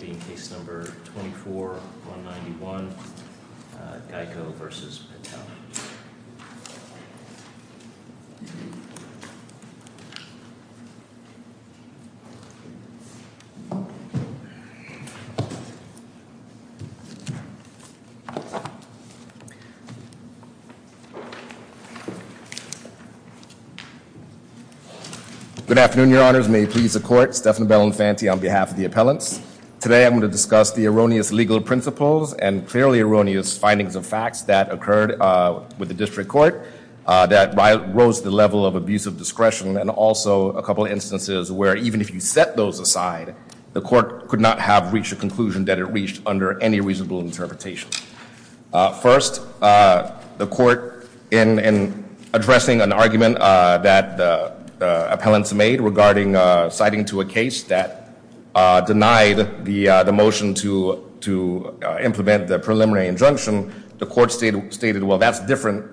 being case number 24-191, Geico v. Patel. Good afternoon, your honors. May it please the court, Stephan Bellin-Fante on behalf of the appellants. Today I'm going to discuss the erroneous legal principles and clearly erroneous findings of facts that occurred with the district court that rose the level of abusive discretion and also a couple instances where even if you set those aside, the court could not have reached a conclusion that it reached under any reasonable interpretation. First, the court in addressing an argument that the appellants made regarding citing to a case that denied the motion to implement the preliminary injunction, the court stated, well, that's different.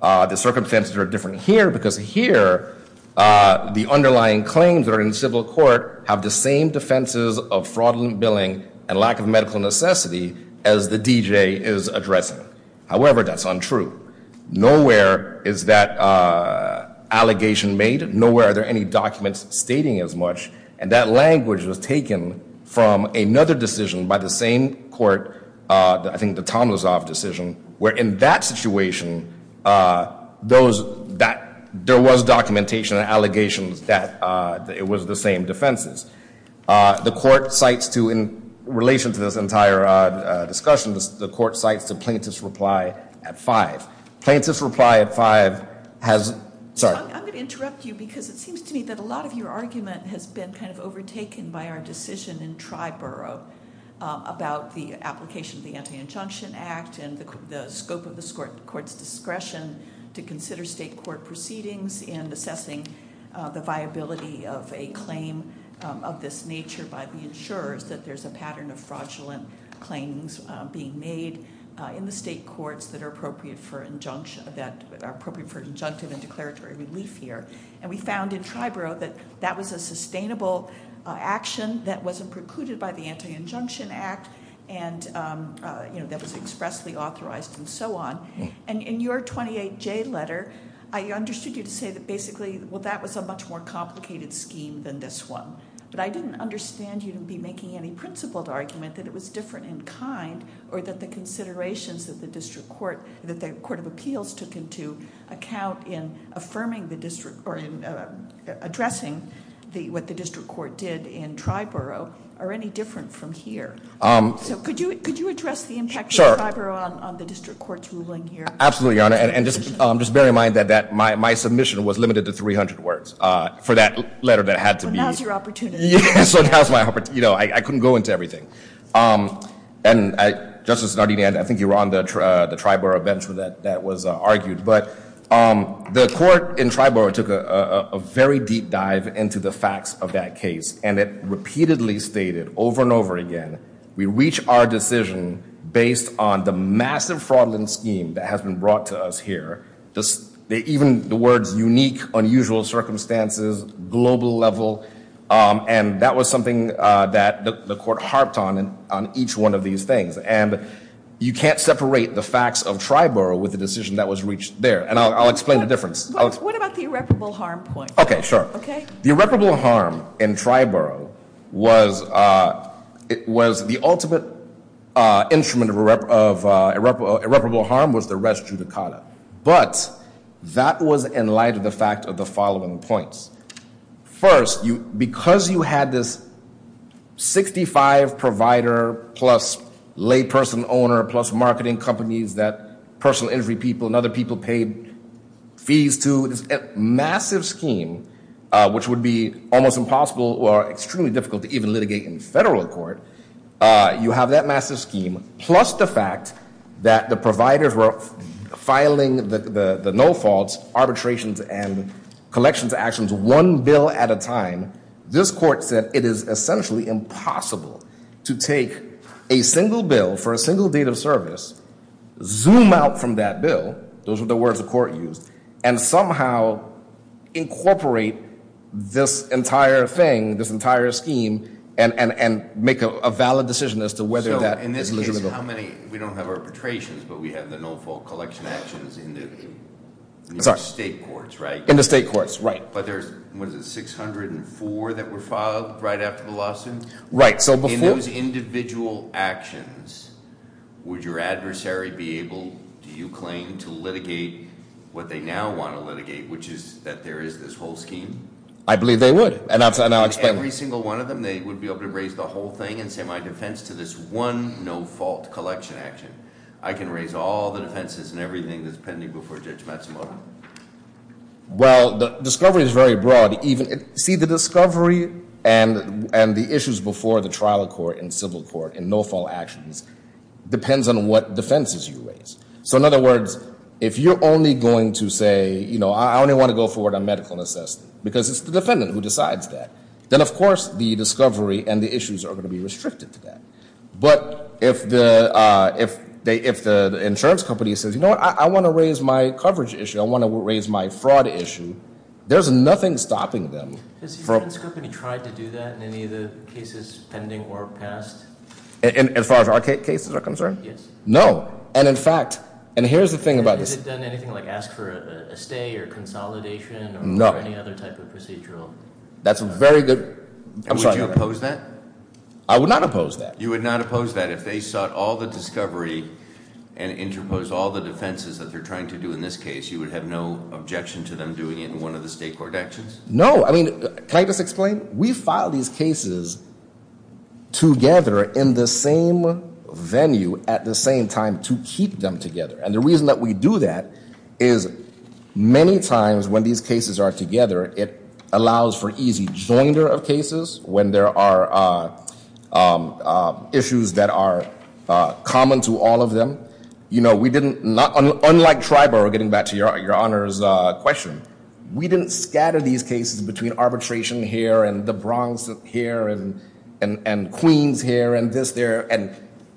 The circumstances are different here because here the underlying claims are in civil court have the same defenses of fraudulent billing and lack of medical necessity as the DJ is addressing. However, that's untrue. Nowhere is that allegation made. Nowhere are there any documents stating as much and that language was taken from another decision by the same court, I think the Tomasov decision, where in that situation there was documentation and allegations that it was the same defenses. The court cites to in relation to this entire discussion, the court cites the plaintiff's reply at five. Plaintiff's reply at five has, sorry. I'm going to interrupt you because it seems to me that a lot of your argument has been kind of overtaken by our decision in Triborough about the application of the Anti-Injunction Act and the scope of the court's discretion to consider state court proceedings and assessing the viability of a claim of this nature by the insurers that there's a pattern of fraudulent claims being made in the state courts that are appropriate for injunction, that are appropriate for injunctive and declaratory relief here. And we found in Triborough that that was a sustainable action that wasn't precluded by the Anti-Injunction Act and that was expressly authorized and so on. And in your 28J letter, I understood you to say that basically, well, that was a much more complicated scheme than this one. But I didn't understand you to be making any principled argument that it was different in kind or that the considerations that the District Court, that the Court of Appeals took into account in affirming the district or in addressing what the District Court did in Triborough are any different from here. So could you address the impact of Triborough on the District Court's ruling here? Absolutely, Your Honor. And just bear in mind that my submission was limited to 300 words for that letter that had to be. Well, now's your opportunity. Yeah, so now's my opportunity. I couldn't go into everything. And Justice Sardinia, I think you were on the Triborough bench that was argued. But the court in Triborough took a very deep dive into the facts of that case. And it repeatedly stated over and over again, we reach our decision based on the massive fraudulent scheme that has been brought to us here. Even the words unique, unusual circumstances, global level, and that was something that the court harped on on each one of these things. And you can't separate the facts of Triborough with the decision that was reached there. And I'll explain the difference. What about the irreparable harm point? OK, sure. The irreparable harm in Triborough was the ultimate instrument of irreparable harm was the rest judicata. But that was in light of the fact of the following points. First, because you had this 65 provider plus lay person owner plus marketing companies that personal injury people and other people paid fees to. It's a massive scheme, which would be almost impossible or extremely difficult to even litigate in federal court. You have that massive scheme plus the fact that the providers were filing the no faults, arbitrations, and collections actions one bill at a time. This court said it is essentially impossible to take a single bill for a single date of service, zoom out from that bill, those are the words the court used, and somehow incorporate this entire thing, this entire scheme, and make a valid decision as to whether that is legitimate. So in this case, we don't have arbitrations, but we have the no fault collection actions in the state courts, right? In the state courts, right. But there's, what is it, 604 that were filed right after the lawsuit? Right. In those individual actions, would your adversary be able, do you claim, to litigate what they now want to litigate, which is that there is this whole scheme? I believe they would. And I'll explain. Every single one of them, they would be able to raise the whole thing and say, my defense to this one no fault collection action. I can raise all the defenses and everything that's pending before Judge Matsumoto. Well, the discovery is very broad. See, the discovery and the issues before the trial court and civil court and no fault actions depends on what defenses you raise. So in other words, if you're only going to say, I only want to go forward on medical necessity, because it's the defendant who decides that, then of course the discovery and the issues are going to be restricted to that. But if the insurance company says, you know what, I want to raise my coverage issue, I want to raise my fraud issue, there's nothing stopping them from. Has the insurance company tried to do that in any of the cases pending or past? As far as our cases are concerned? Yes. No. And in fact, and here's the thing about this. Has it done anything like ask for a stay or consolidation or any other type of procedural? That's a very good. Would you oppose that? I would not oppose that. You would not oppose that if they sought all the discovery and interposed all the defenses that they're trying to do in this case. You would have no objection to them doing it in one of the state court actions? No. I mean, can I just explain? We file these cases together in the same venue at the same time to keep them together. And the reason that we do that is many times when these cases are together, it allows for easy joinder of cases when there are issues that are common to all of them. Unlike TRIBO, getting back to your honor's question, we didn't scatter these cases between arbitration here and the Bronx here and Queens here and this there and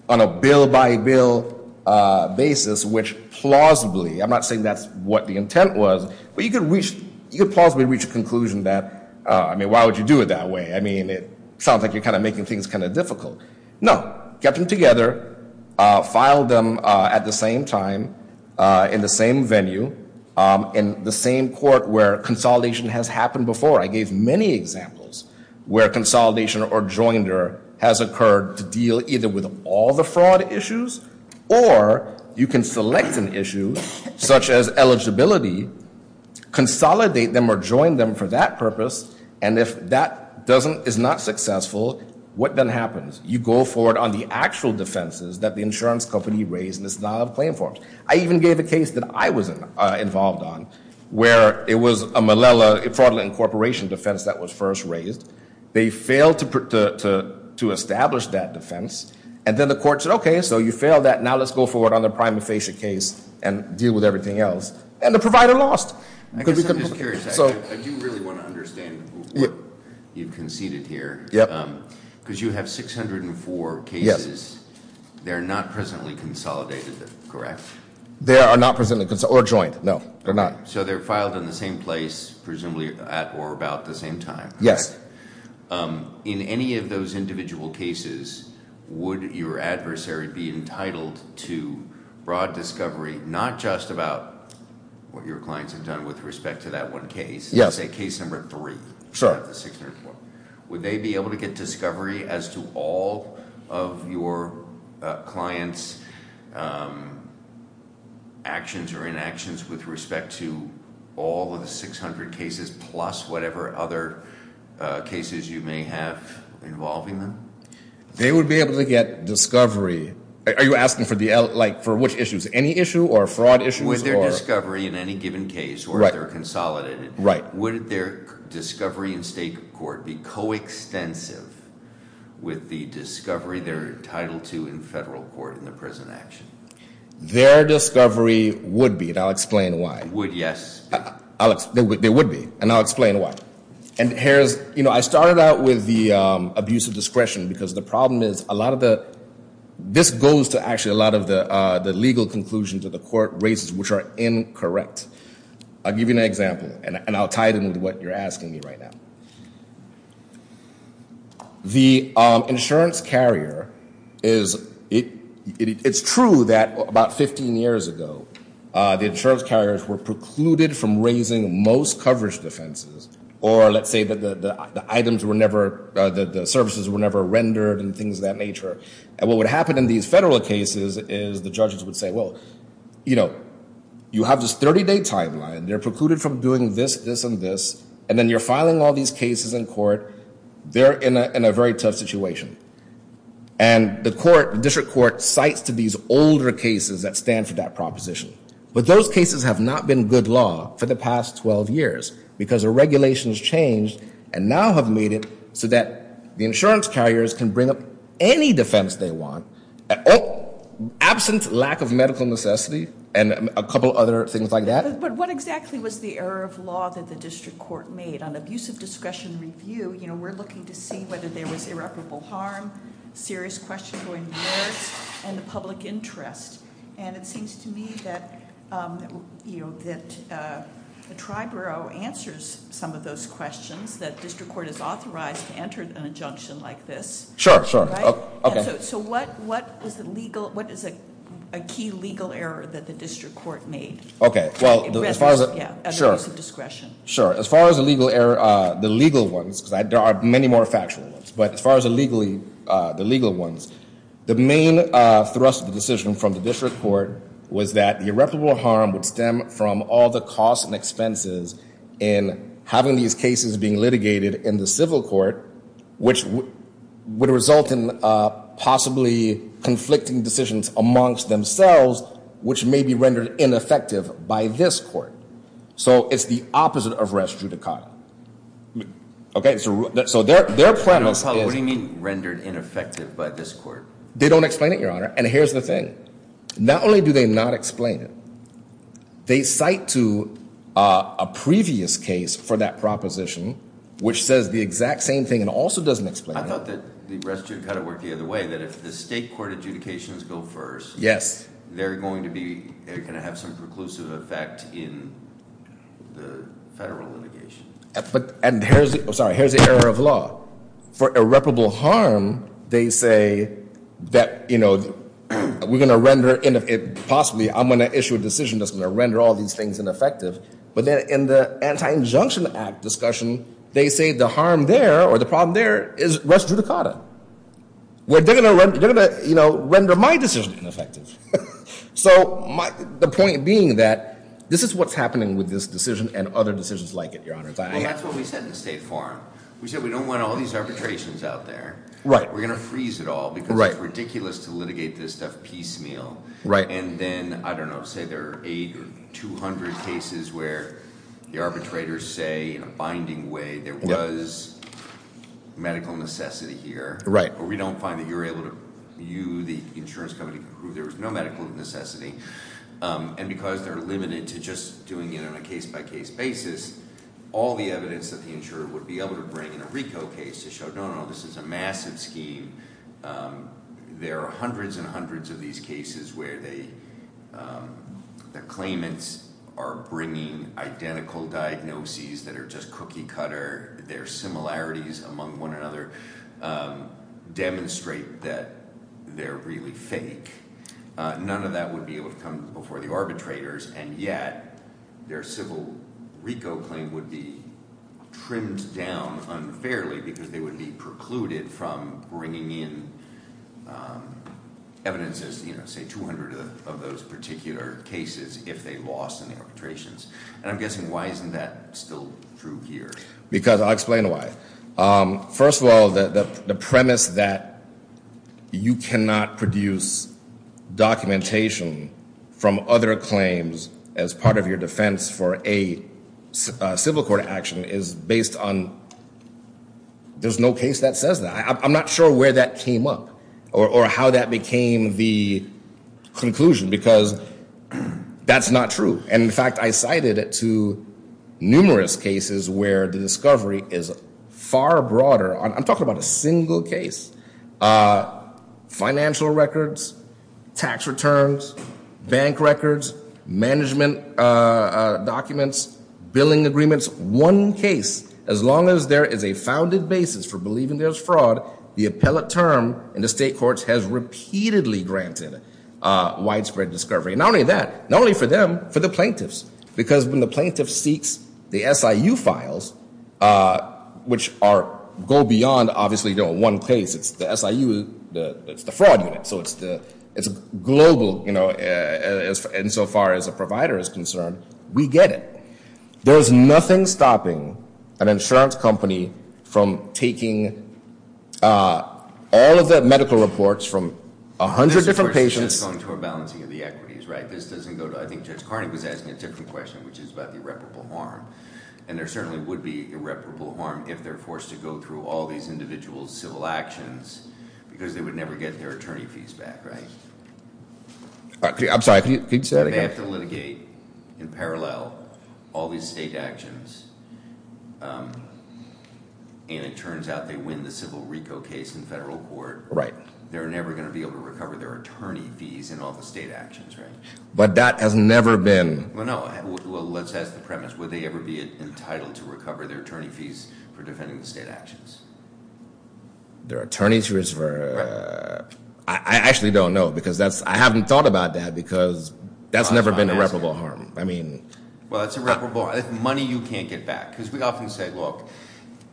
on a bill-by-bill basis, which plausibly, I'm not saying that's what the intent was, but you could plausibly reach a conclusion that, I mean, why would you do it that way? I mean, it sounds like you're kind of making things kind of difficult. No. Kept them together, filed them at the same time in the same venue in the same court where consolidation has happened before. I gave many examples where consolidation or joinder has occurred to deal either with all the fraud issues or you can select an issue, such as eligibility, consolidate them or join them for that purpose. And if that is not successful, what then happens? You go forward on the actual defenses that the insurance company raised in its non-claim forms. I even gave a case that I was involved on where it was a Malala Fraud and Incorporation defense that was first raised. They failed to establish that defense. And then the court said, OK, so you failed that. Now let's go forward on the prima facie case and deal with everything else. And the provider lost. I guess I'm just curious. I do really want to understand what you've conceded here. Because you have 604 cases. They're not presently consolidated, correct? They are not presently consolidated or joined, no. They're not. So they're filed in the same place, presumably at or about the same time. Yes. In any of those individual cases, would your adversary be entitled to broad discovery, not just about what your clients have done with respect to that one case, say case number three, not the 604? Would they be able to get discovery as to all of your clients' actions or inactions with respect to all of the 600 cases plus whatever other cases you may have involving them? They would be able to get discovery. Are you asking for which issues? Any issue or fraud issues? Would their discovery in any given case, or if they're consolidated, would their discovery in state court be coextensive with the discovery they're entitled to in federal court in the present action? Their discovery would be, and I'll explain why. Would, yes. They would be, and I'll explain why. And I started out with the abuse of discretion, because the problem is, this goes to actually a lot of the legal conclusions of the court races, which are incorrect. I'll give you an example, and I'll tie it in with what you're asking me right now. The insurance carrier is, it's true that about 15 years ago, the insurance carriers were precluded from raising most coverage defenses, or let's say that the items were never, that the services were never rendered and things of that nature. And what would happen in these federal cases is the judges would say, well, you have this 30-day timeline. They're precluded from doing this, this, and this. And then you're filing all these cases in court. They're in a very tough situation. And the district court cites to these older cases that stand for that proposition. But those cases have not been good law for the past 12 years, because the regulations changed and now have made it so that the insurance carriers can bring up any defense they want, absent lack of medical necessity and a couple other things like that. But what exactly was the error of law that the district court made? On abusive discretion review, we're looking to see whether there was irreparable harm, serious question going worse, and the public interest. And it seems to me that the Triborough answers some of those questions, that district court is authorized to enter an injunction like this. Sure, sure. So what is a key legal error that the district court made? OK, well, as far as the legal ones, because there are many more factual ones. But as far as the legal ones, the main thrust of the decision from the district court was that irreparable harm would stem from all the costs and expenses in having these cases being litigated in the civil court, which would result in possibly conflicting decisions amongst themselves, which may be rendered ineffective by this court. So it's the opposite of res judicata. OK, so their premise is that they don't explain it, Your Honor, and here's the thing. Not only do they not explain it, they cite to a previous case for that proposition, which says the exact same thing and also doesn't explain it. I thought that the res judicata worked the other way, that if the state court adjudications go first, they're going to have some preclusive effect in the federal litigation. And sorry, here's the error of law. For irreparable harm, they say that we're going to render it possibly, I'm going to issue a decision that's going to render all these things ineffective. But then in the Anti-Injunction Act discussion, they say the harm there or the problem there is res judicata, where they're going to render my decision ineffective. So the point being that this is what's happening with this decision and other decisions like it, Your Honor. And that's what we said in the State Forum. We said we don't want all these arbitrations out there. We're going to freeze it all because it's ridiculous to litigate this stuff piecemeal. And then, I don't know, say there are 800 or 200 cases where the arbitrators say in a binding way there was medical necessity here, or we don't find that you're able to, you, the insurance company, prove there was no medical necessity. And because they're limited to just doing it on a case-by-case basis, all the evidence that the insurer would be able to bring in a RICO case to show, no, no, this is a massive scheme. There are hundreds and hundreds of these cases where the claimants are bringing identical diagnoses that are just cookie cutter. Their similarities among one another demonstrate that they're really fake. None of that would be able to come before the arbitrators. And yet, their civil RICO claim would be trimmed down unfairly because they would be precluded from bringing in evidence as, say, 200 of those particular cases if they lost in the arbitrations. And I'm guessing, why isn't that still true here? I'll explain why. First of all, the premise that you cannot produce documentation from other claims as part of your defense for a civil court action is based on there's no case that says that. I'm not sure where that came up or how that became the conclusion because that's not true. And in fact, I cited it to numerous cases where the discovery is far broader. I'm talking about a single case. Financial records, tax returns, bank records, management documents, billing agreements, one case. As long as there is a founded basis for believing there's fraud, the appellate term in the state courts has repeatedly granted widespread discovery. Not only that, not only for them, for the plaintiffs. Because when the plaintiff seeks the SIU files, which go beyond, obviously, one case. It's the SIU, it's the fraud unit. So it's global insofar as a provider is concerned. We get it. There is nothing stopping an insurance company from taking all of the medical reports from 100 different patients. This, of course, is just going toward balancing of the equities, right? This doesn't go to, I think Judge Carney was asking it in a different question, which is about the irreparable harm. And there certainly would be irreparable harm if they're forced to go through all these individual civil actions, because they would never get their attorney fees back, right? I'm sorry, could you say that again? They have to litigate, in parallel, all these state actions. And it turns out they win the civil RICO case in federal court. Right. They're never going to be able to recover their attorney fees in all the state actions, right? But that has never been. Well, let's ask the premise. Would they ever be entitled to recover their attorney fees for defending the state actions? Their attorney fees for, I actually don't know, because I haven't thought about that, because that's never been irreparable harm. I mean. Well, it's irreparable. Money you can't get back. Because we often say, look,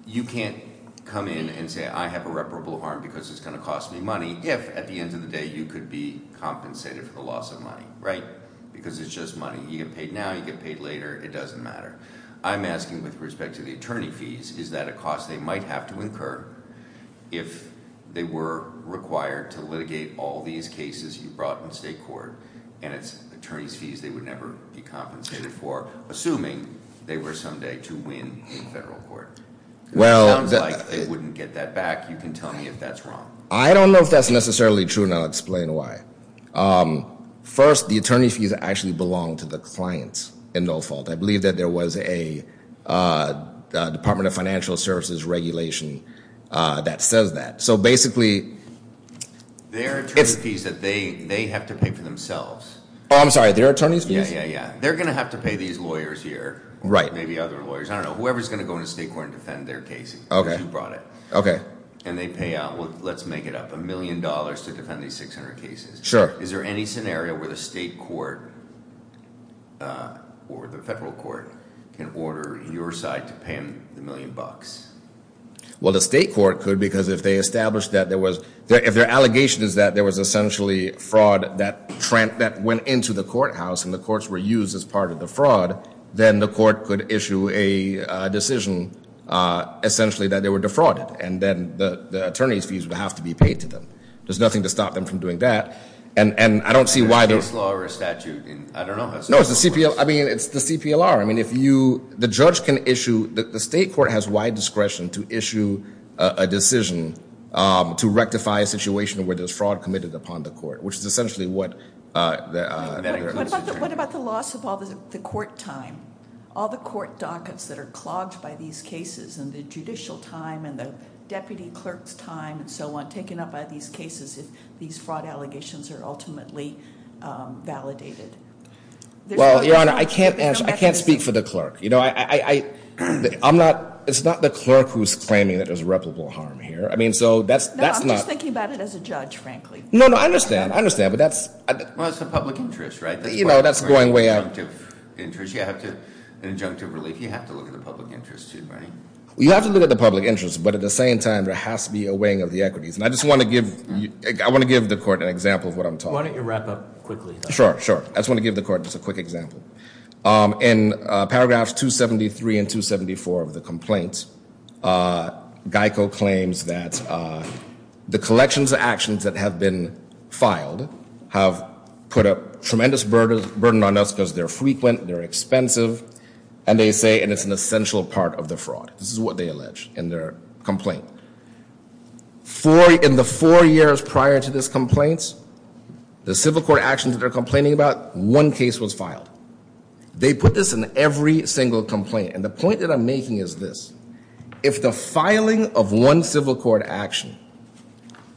you can't come in and say, I have irreparable harm because it's going to cost me money, if, at the end of the day, you could be compensated for the loss of money, right? Because it's just money. You get paid now. You get paid later. It doesn't matter. I'm asking with respect to the attorney fees, is that a cost they might have to incur if they were required to litigate all these cases you brought in state court, and it's attorney's fees they would never be compensated for, assuming they were someday to win in federal court? Well. It sounds like they wouldn't get that back. You can tell me if that's wrong. I don't know if that's necessarily true, and I'll explain why. First, the attorney's fees actually belong to the clients, and no fault. I believe that there was a Department of Financial Services regulation that says that. So basically, it's- They're attorney's fees that they have to pay for themselves. I'm sorry, they're attorney's fees? Yeah, yeah, yeah. They're going to have to pay these lawyers here. Right. Maybe other lawyers. I don't know. Whoever's going to go into state court and defend their case, because you brought it. OK. And they pay out, well, let's make it up, $1 million to defend these 600 cases. Sure. Is there any scenario where the state court or the federal court can order your side to pay them the million bucks? Well, the state court could, because if they established that there was- if their allegation is that there was essentially fraud that went into the courthouse, and the courts were used as part of the fraud, then the court could issue a decision, essentially, that they were defrauded. And then the attorney's fees would have to be paid to them. There's nothing to stop them from doing that. And I don't see why they- Is it case law or a statute? I don't know. No, it's the CPL- I mean, it's the CPLR. I mean, if you- the judge can issue- the state court has wide discretion to issue a decision to rectify a situation where there's fraud committed upon the court, which is essentially what- What about the loss of all the court time? All the court dockets that are clogged by these cases, and the judicial time, and the deputy clerk's time, and so on, taken up by these cases, if these fraud allegations are ultimately validated? Well, Your Honor, I can't speak for the clerk. You know, I'm not- it's not the clerk who's claiming that there's reputable harm here. I mean, so that's not- No, I'm just thinking about it as a judge, frankly. No, no, I understand. I understand, but that's- Well, it's the public interest, right? You know, that's going way out- That's why we're in the injunctive interest. You have to- an injunctive relief, you have to look at the public interest, too, right? You have to look at the public interest, but at the same time, there has to be a weighing of the equities, and I just want to give- I want to give the court an example of what I'm talking- Why don't you wrap up quickly, though? Sure, sure. I just want to give the court just a quick example. In paragraphs 273 and 274 of the complaint, Geico claims that the collections of actions that have been filed have put a tremendous burden on us because they're frequent, they're expensive, and they say it's an essential part of the fraud. This is what they allege in their complaint. In the four years prior to this complaint, the civil court actions that they're complaining about, one case was filed. They put this in every single complaint, and the point that I'm making is this. If the filing of one civil court action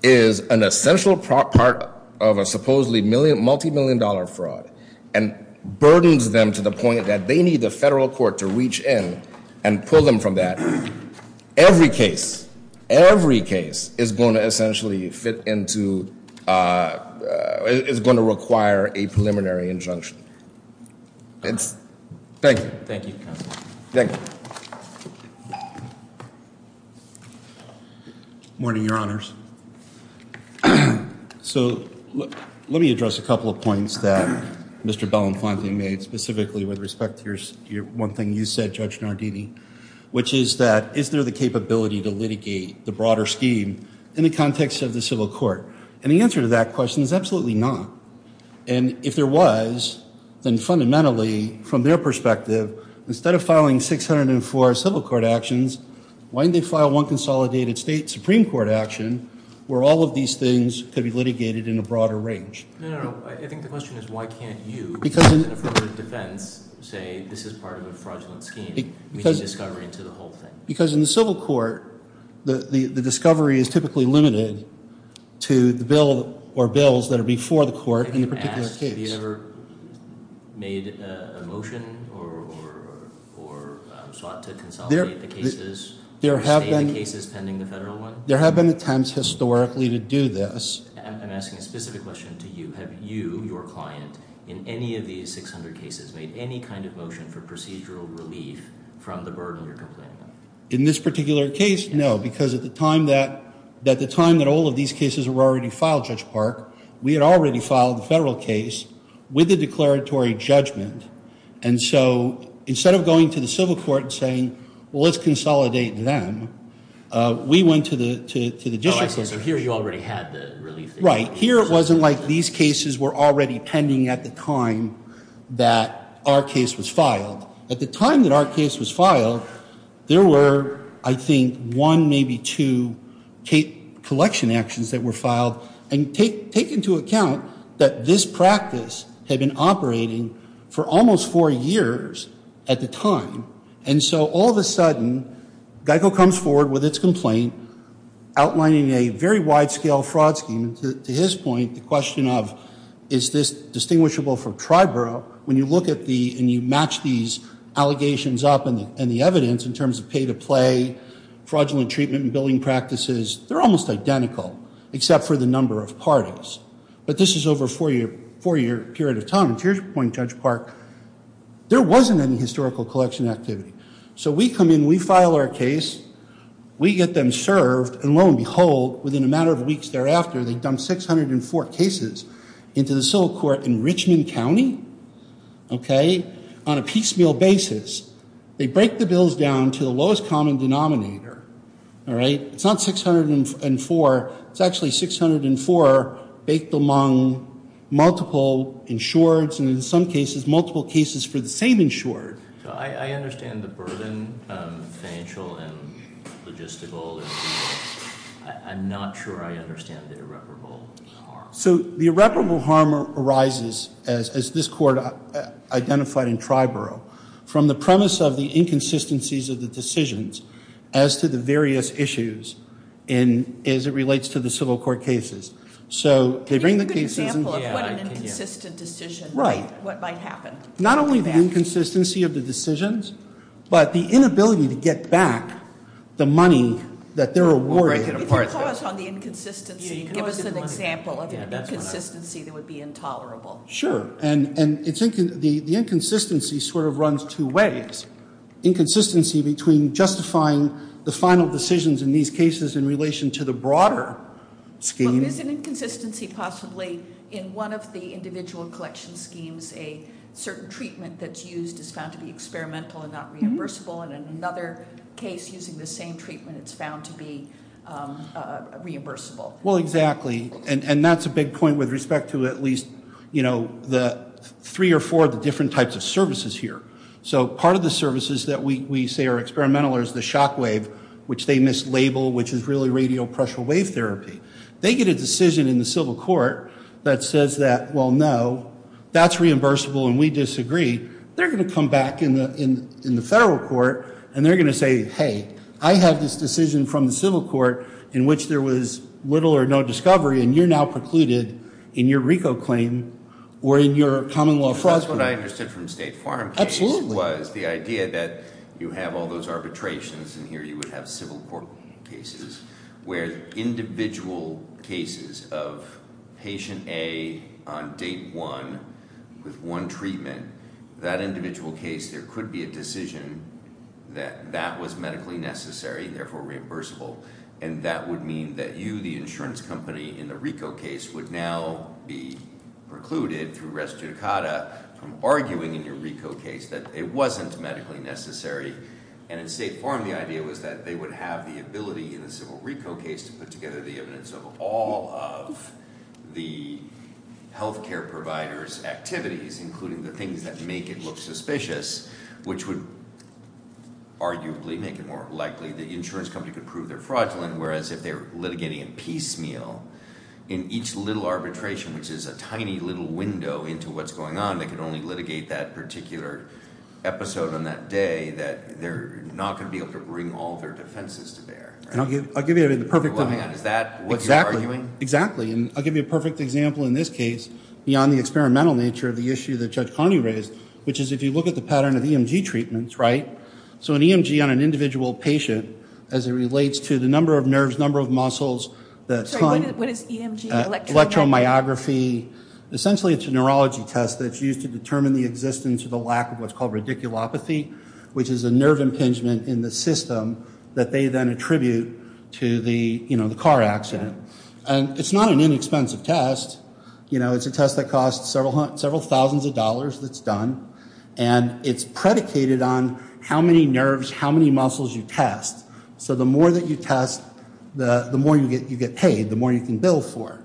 is an essential part of a supposedly multi-million dollar fraud, and burdens them to the point that they need the federal court to reach in and pull them from that, every case, every case is going to essentially fit into, is going to require a preliminary injunction. Thank you. Thank you, counsel. Thank you. Morning, your honors. So, let me address a couple of points that Mr. Bellin-Fontaine made, specifically with respect to one thing you said, Judge Nardini, which is that, is there the capability to litigate the broader scheme in the context of the civil court? And the answer to that question is absolutely not. And if there was, then fundamentally, from their perspective, instead of filing 604 civil court actions, why didn't they file one consolidated state supreme court action where all of these things could be litigated in a broader range? No, no, no, I think the question is, why can't you, as an affirmative defense, say this is part of a fraudulent scheme, reaching discovery into the whole thing? Because in the civil court, the discovery is typically limited to the bill, or bills, that are before the court in the particular case. Have you ever asked, have you ever made a motion, or sought to consolidate the cases, state the cases pending the federal one? There have been attempts, historically, to do this. I'm asking a specific question to you. Have you, your client, in any of these 600 cases, made any kind of motion for procedural relief from the burden you're complaining about? In this particular case, no, because at the time that all of these cases were already filed, Judge Park, we had already filed the federal case with a declaratory judgment. And so, instead of going to the civil court and saying, well, let's consolidate them, we went to the district court. Oh, I see, so here you already had the relief. Right, here it wasn't like these cases were already pending at the time that our case was filed. At the time that our case was filed, there were, I think, one, maybe two, collection actions that were filed. And take into account that this practice had been operating for almost four years at the time. And so, all of a sudden, Geico comes forward with its complaint outlining a very wide-scale fraud scheme. To his point, the question of, is this distinguishable from Triborough? When you look at the, and you match these allegations up and the evidence in terms of pay-to-play, fraudulent treatment and billing practices, they're almost identical, except for the number of parties. But this is over a four-year period of time. To your point, Judge Park, there wasn't any historical collection activity. So we come in, we file our case, we get them served, and lo and behold, within a matter of weeks thereafter, they dump 604 cases into the civil court in Richmond County, okay, on a piecemeal basis. They break the bills down to the lowest common denominator. All right, it's not 604, it's actually 604 baked among multiple insureds, and in some cases, multiple cases for the same insured. So I understand the burden, financial and logistical. I'm not sure I understand the irreparable harm. So the irreparable harm arises, as this court identified in Triborough, from the premise of the inconsistencies of the decisions as to the various issues and as it relates to the civil court cases. So they bring the cases in. But what an inconsistent decision. Right. What might happen? Not only the inconsistency of the decisions, but the inability to get back the money that they're awarded. We'll break it apart. If you'll call us on the inconsistency, give us an example of an inconsistency that would be intolerable. Sure, and the inconsistency sort of runs two ways. Inconsistency between justifying the final decisions in these cases in relation to the broader scheme. So is an inconsistency possibly in one of the individual collection schemes, a certain treatment that's used is found to be experimental and not reimbursable, and in another case using the same treatment it's found to be reimbursable? Well, exactly. And that's a big point with respect to at least the three or four of the different types of services here. So part of the services that we say are experimental is the shock wave, which they mislabel, which is really radial pressure wave therapy. They get a decision in the civil court that says that, well, no, that's reimbursable and we disagree. They're going to come back in the federal court and they're going to say, hey, I had this decision from the civil court in which there was little or no discovery, and you're now precluded in your RICO claim or in your common law fraud. That's what I understood from the State Farm case was the idea that you have all those arbitrations, and here you would have civil court cases, where individual cases of patient A on date one with one treatment, that individual case there could be a decision that that was medically necessary, therefore reimbursable. And that would mean that you, the insurance company in the RICO case, would now be precluded through res judicata from arguing in your RICO case that it wasn't medically necessary. And in State Farm the idea was that they would have the ability in the civil RICO case to put together the evidence of all of the health care providers' activities, including the things that make it look suspicious, which would arguably make it more likely the insurance company could prove they're fraudulent, whereas if they were litigating in piecemeal, in each little arbitration, which is a tiny little window into what's going on, they could only litigate that particular episode on that day that they're not going to be able to bring all of their defenses to bear. And I'll give you the perfect example. Is that what you're arguing? Exactly. And I'll give you a perfect example, in this case, beyond the experimental nature of the issue that Judge Connie raised, which is if you look at the pattern of EMG treatments, right? So an EMG on an individual patient, as it relates to the number of nerves, number of muscles, the time. What is EMG? Electromyography. Essentially, it's a neurology test that's used to determine the existence of the lack of what's called radiculopathy, which is a nerve impingement in the system that they then attribute to the car accident. And it's not an inexpensive test. It's a test that costs several thousands of dollars that's done. And it's predicated on how many nerves, how many muscles you test. So the more that you test, the more you get paid, the more you can bill for.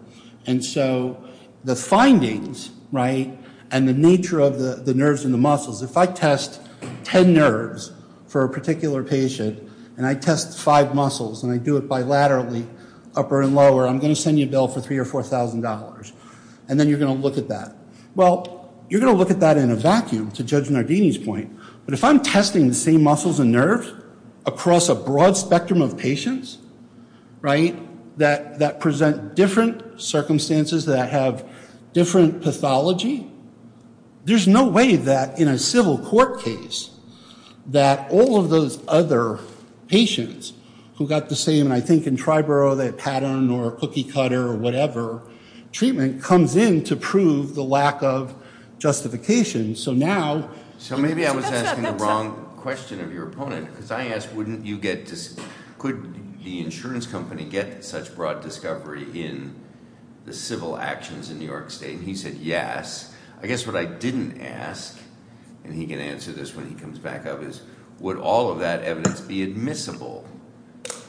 And so the findings and the nature of the nerves and the muscles, if I test 10 nerves for a particular patient, and I test five muscles, and I do it bilaterally, upper and lower, I'm going to send you a bill for $3,000 or $4,000. And then you're going to look at that. Well, you're going to look at that in a vacuum, to Judge Nardini's point. But if I'm testing the same muscles and nerves across a broad spectrum of patients, right, that present different circumstances that have different pathology, there's no way that, in a civil court case, that all of those other patients who got the same, and I think in Triborough, that pattern or cookie cutter or whatever treatment comes in to prove the lack of justification. So now. So maybe I was asking the wrong question of your opponent. Because I asked, wouldn't you get this, could the insurance company get such broad discovery in the civil actions in New York State? And he said, yes. I guess what I didn't ask, and he can answer this when he comes back up, is, would all of that evidence be admissible?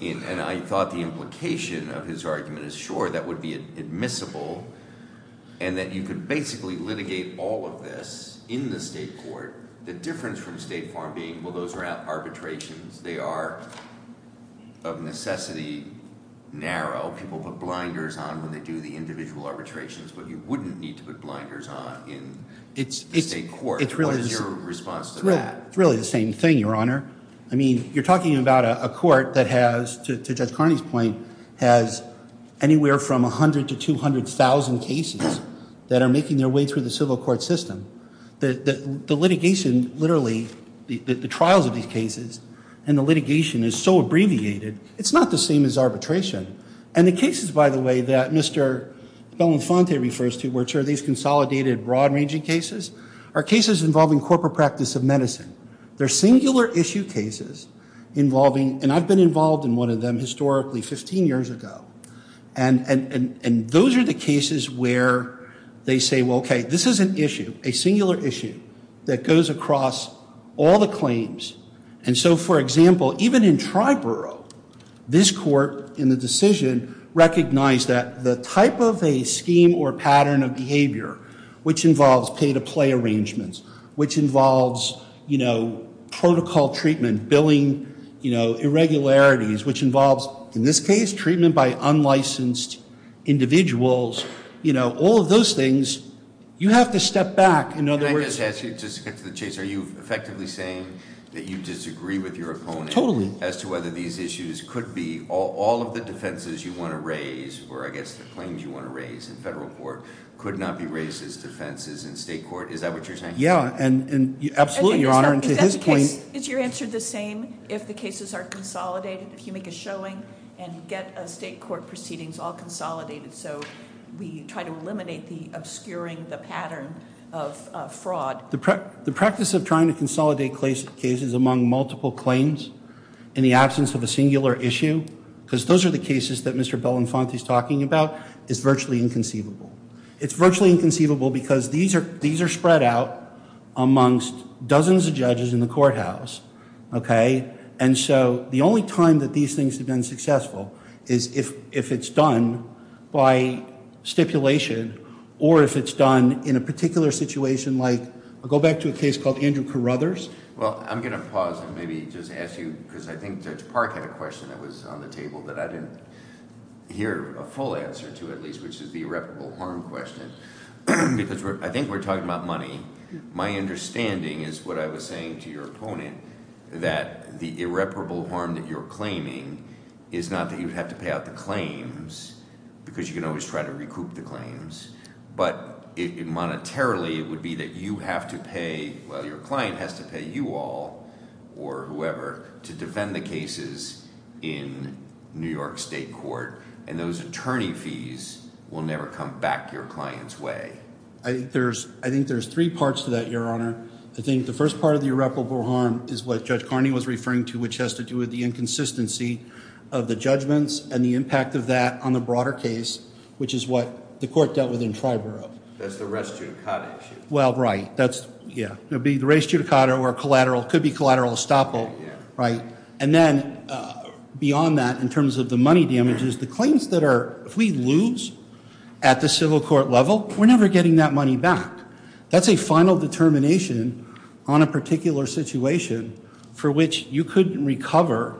And I thought the implication of his argument is, sure, that would be admissible, and that you could basically litigate all of this in the state court. The difference from state farm being, well, those are arbitrations. They are, of necessity, narrow. People put blinders on when they do the individual arbitrations. But you wouldn't need to put blinders on in the state court. What is your response to that? It's really the same thing, Your Honor. I mean, you're talking about a court that has, to Judge Carney's point, has anywhere from 100,000 to 200,000 cases that are making their way through the civil court system. The litigation, literally, the trials of these cases and the litigation is so abbreviated, it's not the same as arbitration. And the cases, by the way, that Mr. Belenfante refers to, which are these consolidated, broad-ranging cases, are cases involving corporate practice of medicine. They're singular issue cases involving, and I've been involved in one of them historically 15 years ago. And those are the cases where they say, well, OK, this is an issue, a singular issue, that goes across all the claims. And so, for example, even in Triborough, this court, in the decision, recognized that the type of a scheme or pattern of behavior, which involves pay-to-play arrangements, which involves protocol treatment, billing irregularities, which involves, in this case, treatment by unlicensed individuals, all of those things, you have to step back. In other words, Can I just ask you, just to get to the chase, are you effectively saying that you disagree with your opponent Totally. As to whether these issues could be, all of the defenses you want to raise, or I guess the claims you want to raise in federal court, could not be raised as defenses in state court? Is that what you're saying? Yeah. And absolutely, Your Honor, and to his point, Is your answer the same if the cases are consolidated? If you make a showing and you get a state court proceedings all consolidated, so we try to eliminate the obscuring the pattern of fraud? The practice of trying to consolidate cases among multiple claims in the absence of a singular issue, because those are the cases that Mr. Belenfante is talking about, is virtually inconceivable. It's virtually inconceivable because these are spread out amongst dozens of judges in the courthouse. And so the only time that these things have been successful is if it's done by stipulation, or if it's done in a particular situation like, I'll go back to a case called Andrew Carruthers. Well, I'm going to pause and maybe just ask you, because I think Judge Park had a question that was on the table that I didn't hear a full answer to, at least, which is the irreparable harm question. Because I think we're talking about money. My understanding is what I was saying to your opponent, that the irreparable harm that you're claiming is not that you have to pay out the claims, because you can always try to recoup the claims. But monetarily, it would be that you have to pay, well, your client has to pay you all, or whoever, to defend the cases in New York State Court. And those attorney fees will never come back your client's way. I think there's three parts to that, Your Honor. I think the first part of the irreparable harm is what Judge Carney was referring to, which has to do with the inconsistency of the judgments and the impact of that on the broader case, which is what the court dealt with in Triborough. That's the restricted cottage. Well, right. It would be the restricted cottage or collateral. It could be collateral estoppel. And then beyond that, in terms of the money damages, the claims that are, if we lose at the civil court level, we're never getting that money back. That's a final determination on a particular situation for which you couldn't recover.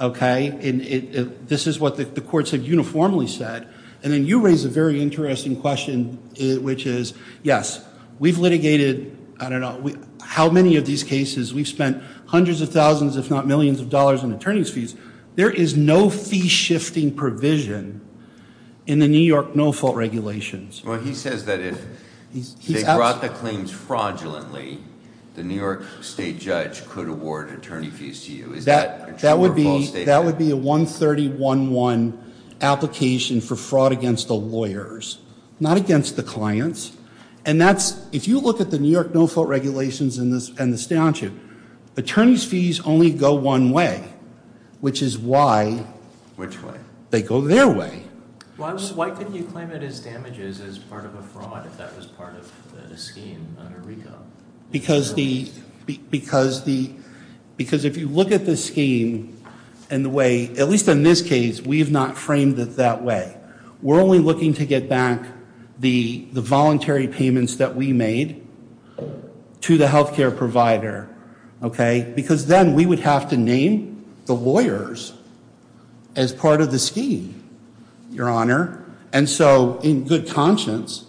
This is what the courts have uniformly said. And then you raise a very interesting question, which is, yes, we've litigated, I don't know, how many of these cases we've spent hundreds of thousands, if not millions of dollars in attorney's fees. There is no fee shifting provision in the New York no-fault regulations. Well, he says that if they brought the claims fraudulently, the New York State judge could award attorney fees to you. Is that a true or false statement? That would be a 130-1-1 application for fraud against the lawyers. Not against the clients. And that's, if you look at the New York no-fault regulations and the statute, attorney's fees only go one way. Which is why. Which way? They go their way. Why couldn't you claim it as damages as part of a fraud if that was part of the scheme under RICO? Because the, because if you look at the scheme and the way, at least in this case, we have not framed it that way. We're only looking to get back the voluntary payments that we made to the healthcare provider, okay? Because then we would have to name the lawyers as part of the scheme, your honor. And so in good conscience,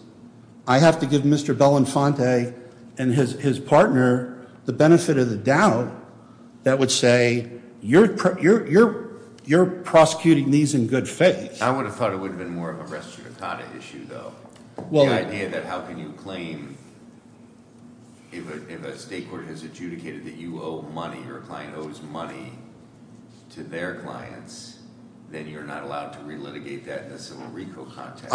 I have to give Mr. Belenfante and his partner the benefit of the doubt that would say you're prosecuting these in good faith. I would have thought it would have been more of a res judicata issue, though. Well. The idea that how can you claim if a state court has adjudicated that you owe money or a client owes money to their clients, then you're not allowed to relitigate that in a civil RICO context.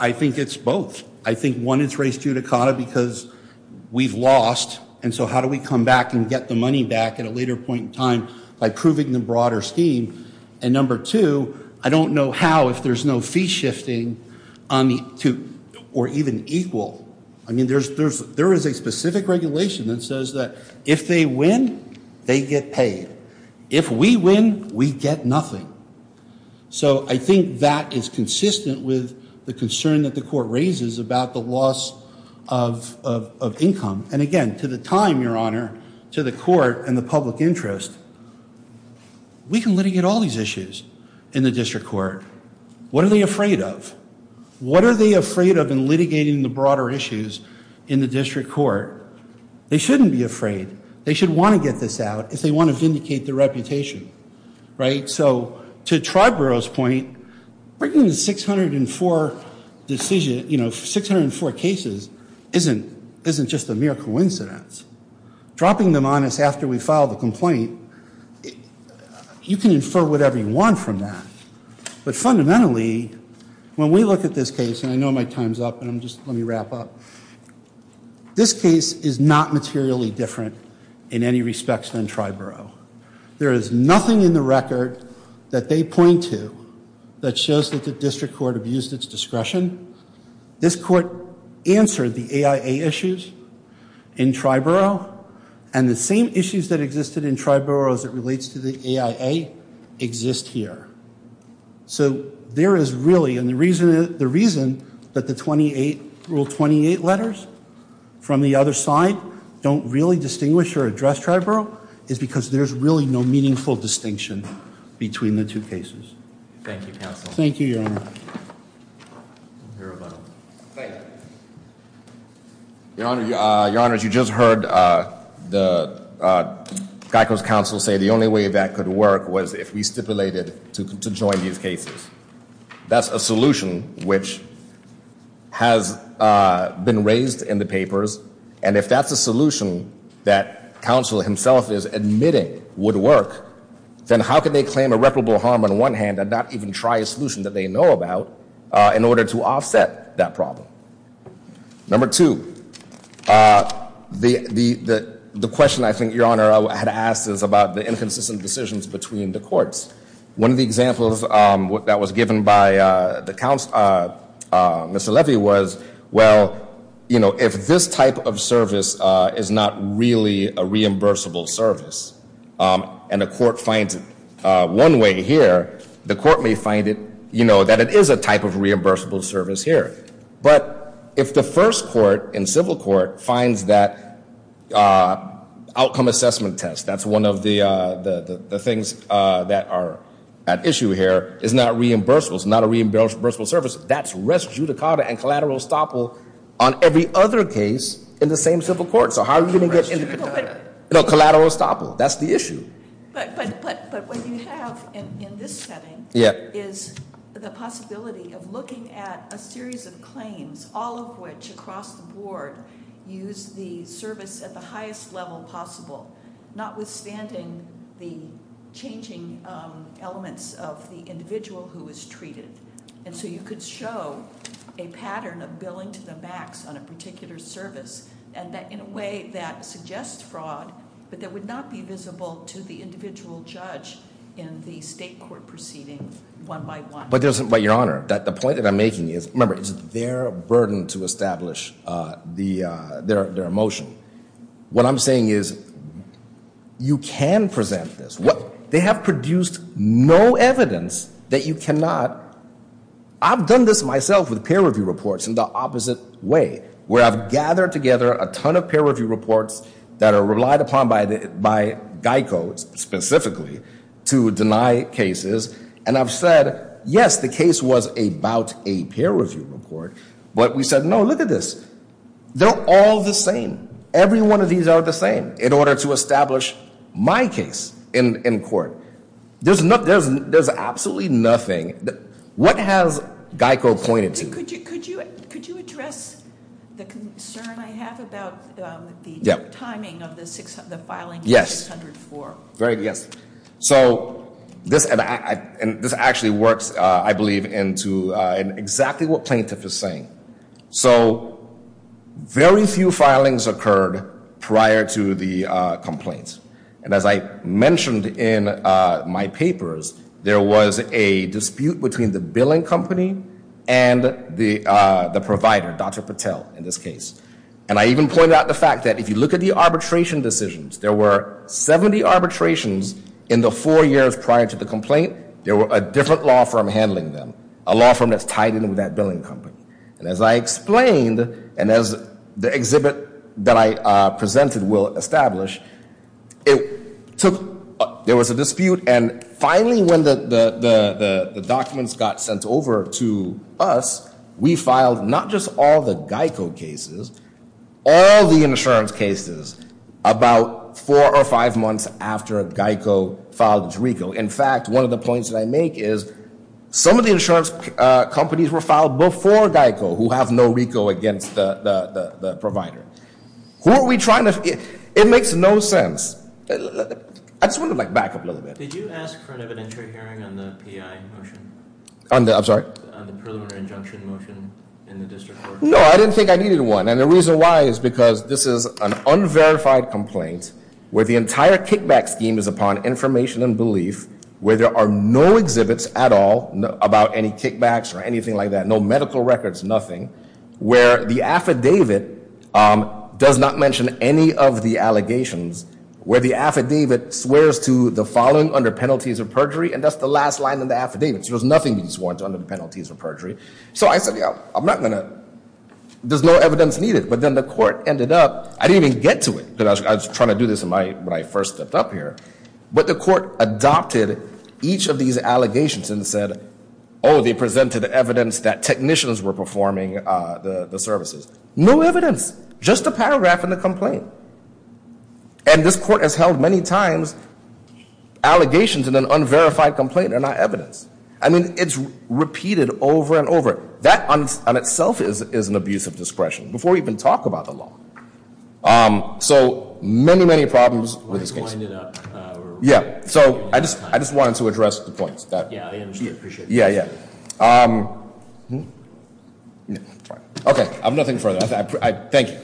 I think it's both. I think one, it's res judicata because we've lost. And so how do we come back and get the money back at a later point in time by proving the broader scheme? And number two, I don't know how, if there's no fee shifting or even equal. I mean, there is a specific regulation that says that if they win, they get paid. If we win, we get nothing. So I think that is consistent with the concern that the court raises about the loss of income. And again, to the time, your honor, to the court and the public interest, we can litigate all these issues in the district court. What are they afraid of? What are they afraid of in litigating the broader issues in the district court? They shouldn't be afraid. They should want to get this out if they want to vindicate their reputation, right? So to Triborough's point, bringing the 604 decision, you know, 604 cases isn't just a mere coincidence. Dropping them on us after we file the complaint, you can infer whatever you want from that. But fundamentally, when we look at this case, and I know my time's up, and I'm just, let me wrap up. This case is not materially different in any respects than Triborough. There is nothing in the record that they point to that shows that the district court abused its discretion. This court answered the AIA issues in Triborough, and the same issues that existed in Triborough as it relates to the AIA exist here. So there is really, and the reason that the 28, Rule 28 letters from the other side don't really distinguish or address Triborough is because there's really no meaningful distinction between the two cases. Thank you, counsel. Thank you, your honor. Your honor, your honor, you just heard the Geico's counsel say the only way that could work was if we stipulated to join these cases. That's a solution which has been raised in the papers, and if that's a solution that counsel himself is admitting would work, then how can they claim irreparable harm on one hand and not even try a solution that they know about in order to offset that problem? Number two, the question I think your honor had asked is about the inconsistent decisions between the courts. One of the examples that was given by the counsel, Mr. Levy was, well, if this type of service is not really a reimbursable service, and the court finds it one way here, the court may find it, you know, that it is a type of reimbursable service here. But if the first court in civil court finds that outcome assessment test, that's one of the things that are at issue here, is not reimbursable, it's not a reimbursable service, that's res judicata and collateral estoppel on every other case in the same civil court. So how are you gonna get? No, collateral estoppel, that's the issue. But what you have in this setting is the possibility of looking at a series of claims, all of which across the board use the service at the highest level possible, notwithstanding the changing elements of the individual who was treated. And so you could show a pattern of billing to the max on a particular service, and that in a way that suggests fraud, but that would not be visible to the individual judge in the state court proceeding one by one. But Your Honor, the point that I'm making is, remember, it's their burden to establish their motion. What I'm saying is, you can present this. They have produced no evidence that you cannot, I've done this myself with peer review reports in the opposite way, where I've gathered together a ton of peer review reports that are relied upon by Geico specifically to deny cases. And I've said, yes, the case was about a peer review report, but we said, no, look at this, they're all the same. Every one of these are the same in order to establish my case in court. There's absolutely nothing. What has Geico pointed to? Could you address the concern I have about the timing of the filing of 604? Yes, yes. So, this actually works, I believe, into exactly what plaintiff is saying. So, very few filings occurred prior to the complaint. And as I mentioned in my papers, there was a dispute between the billing company and the provider, Dr. Patel, in this case. And I even pointed out the fact that if you look at the arbitration decisions, there were 70 arbitrations in the four years prior to the complaint. There were a different law firm handling them, a law firm that's tied in with that billing company. And as I explained, and as the exhibit that I presented will establish, there was a dispute, and finally, when the documents got sent over to us, we filed not just all the Geico cases, all the insurance cases about four or five months after Geico filed its RICO. In fact, one of the points that I make is some of the insurance companies were filed before Geico who have no RICO against the provider. Who are we trying to, it makes no sense. I just want to back up a little bit. Did you ask for an evidentiary hearing on the PI motion? On the, I'm sorry? On the preliminary injunction motion in the district court? No, I didn't think I needed one. And the reason why is because this is an unverified complaint where the entire kickback scheme is upon information and belief, where there are no exhibits at all about any kickbacks or anything like that. No medical records, nothing. Where the affidavit does not mention any of the allegations. Where the affidavit swears to the following under penalties of perjury, and that's the last line in the affidavit. There was nothing that was sworn to under the penalties of perjury. So I said, yeah, I'm not gonna, there's no evidence needed. But then the court ended up, I didn't even get to it, but I was trying to do this when I first stepped up here. But the court adopted each of these allegations and said, oh, they presented evidence that technicians were performing the services. No evidence, just a paragraph in the complaint. And this court has held many times allegations in an unverified complaint are not evidence. I mean, it's repeated over and over. That on itself is an abuse of discretion before we even talk about the law. So many, many problems with this case. Yeah, so I just wanted to address the points. Yeah, I appreciate that. Yeah, yeah. Okay, I have nothing further. Thank you.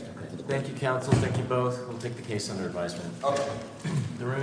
Thank you, counsel. Thank you both. We'll take the case under advisement.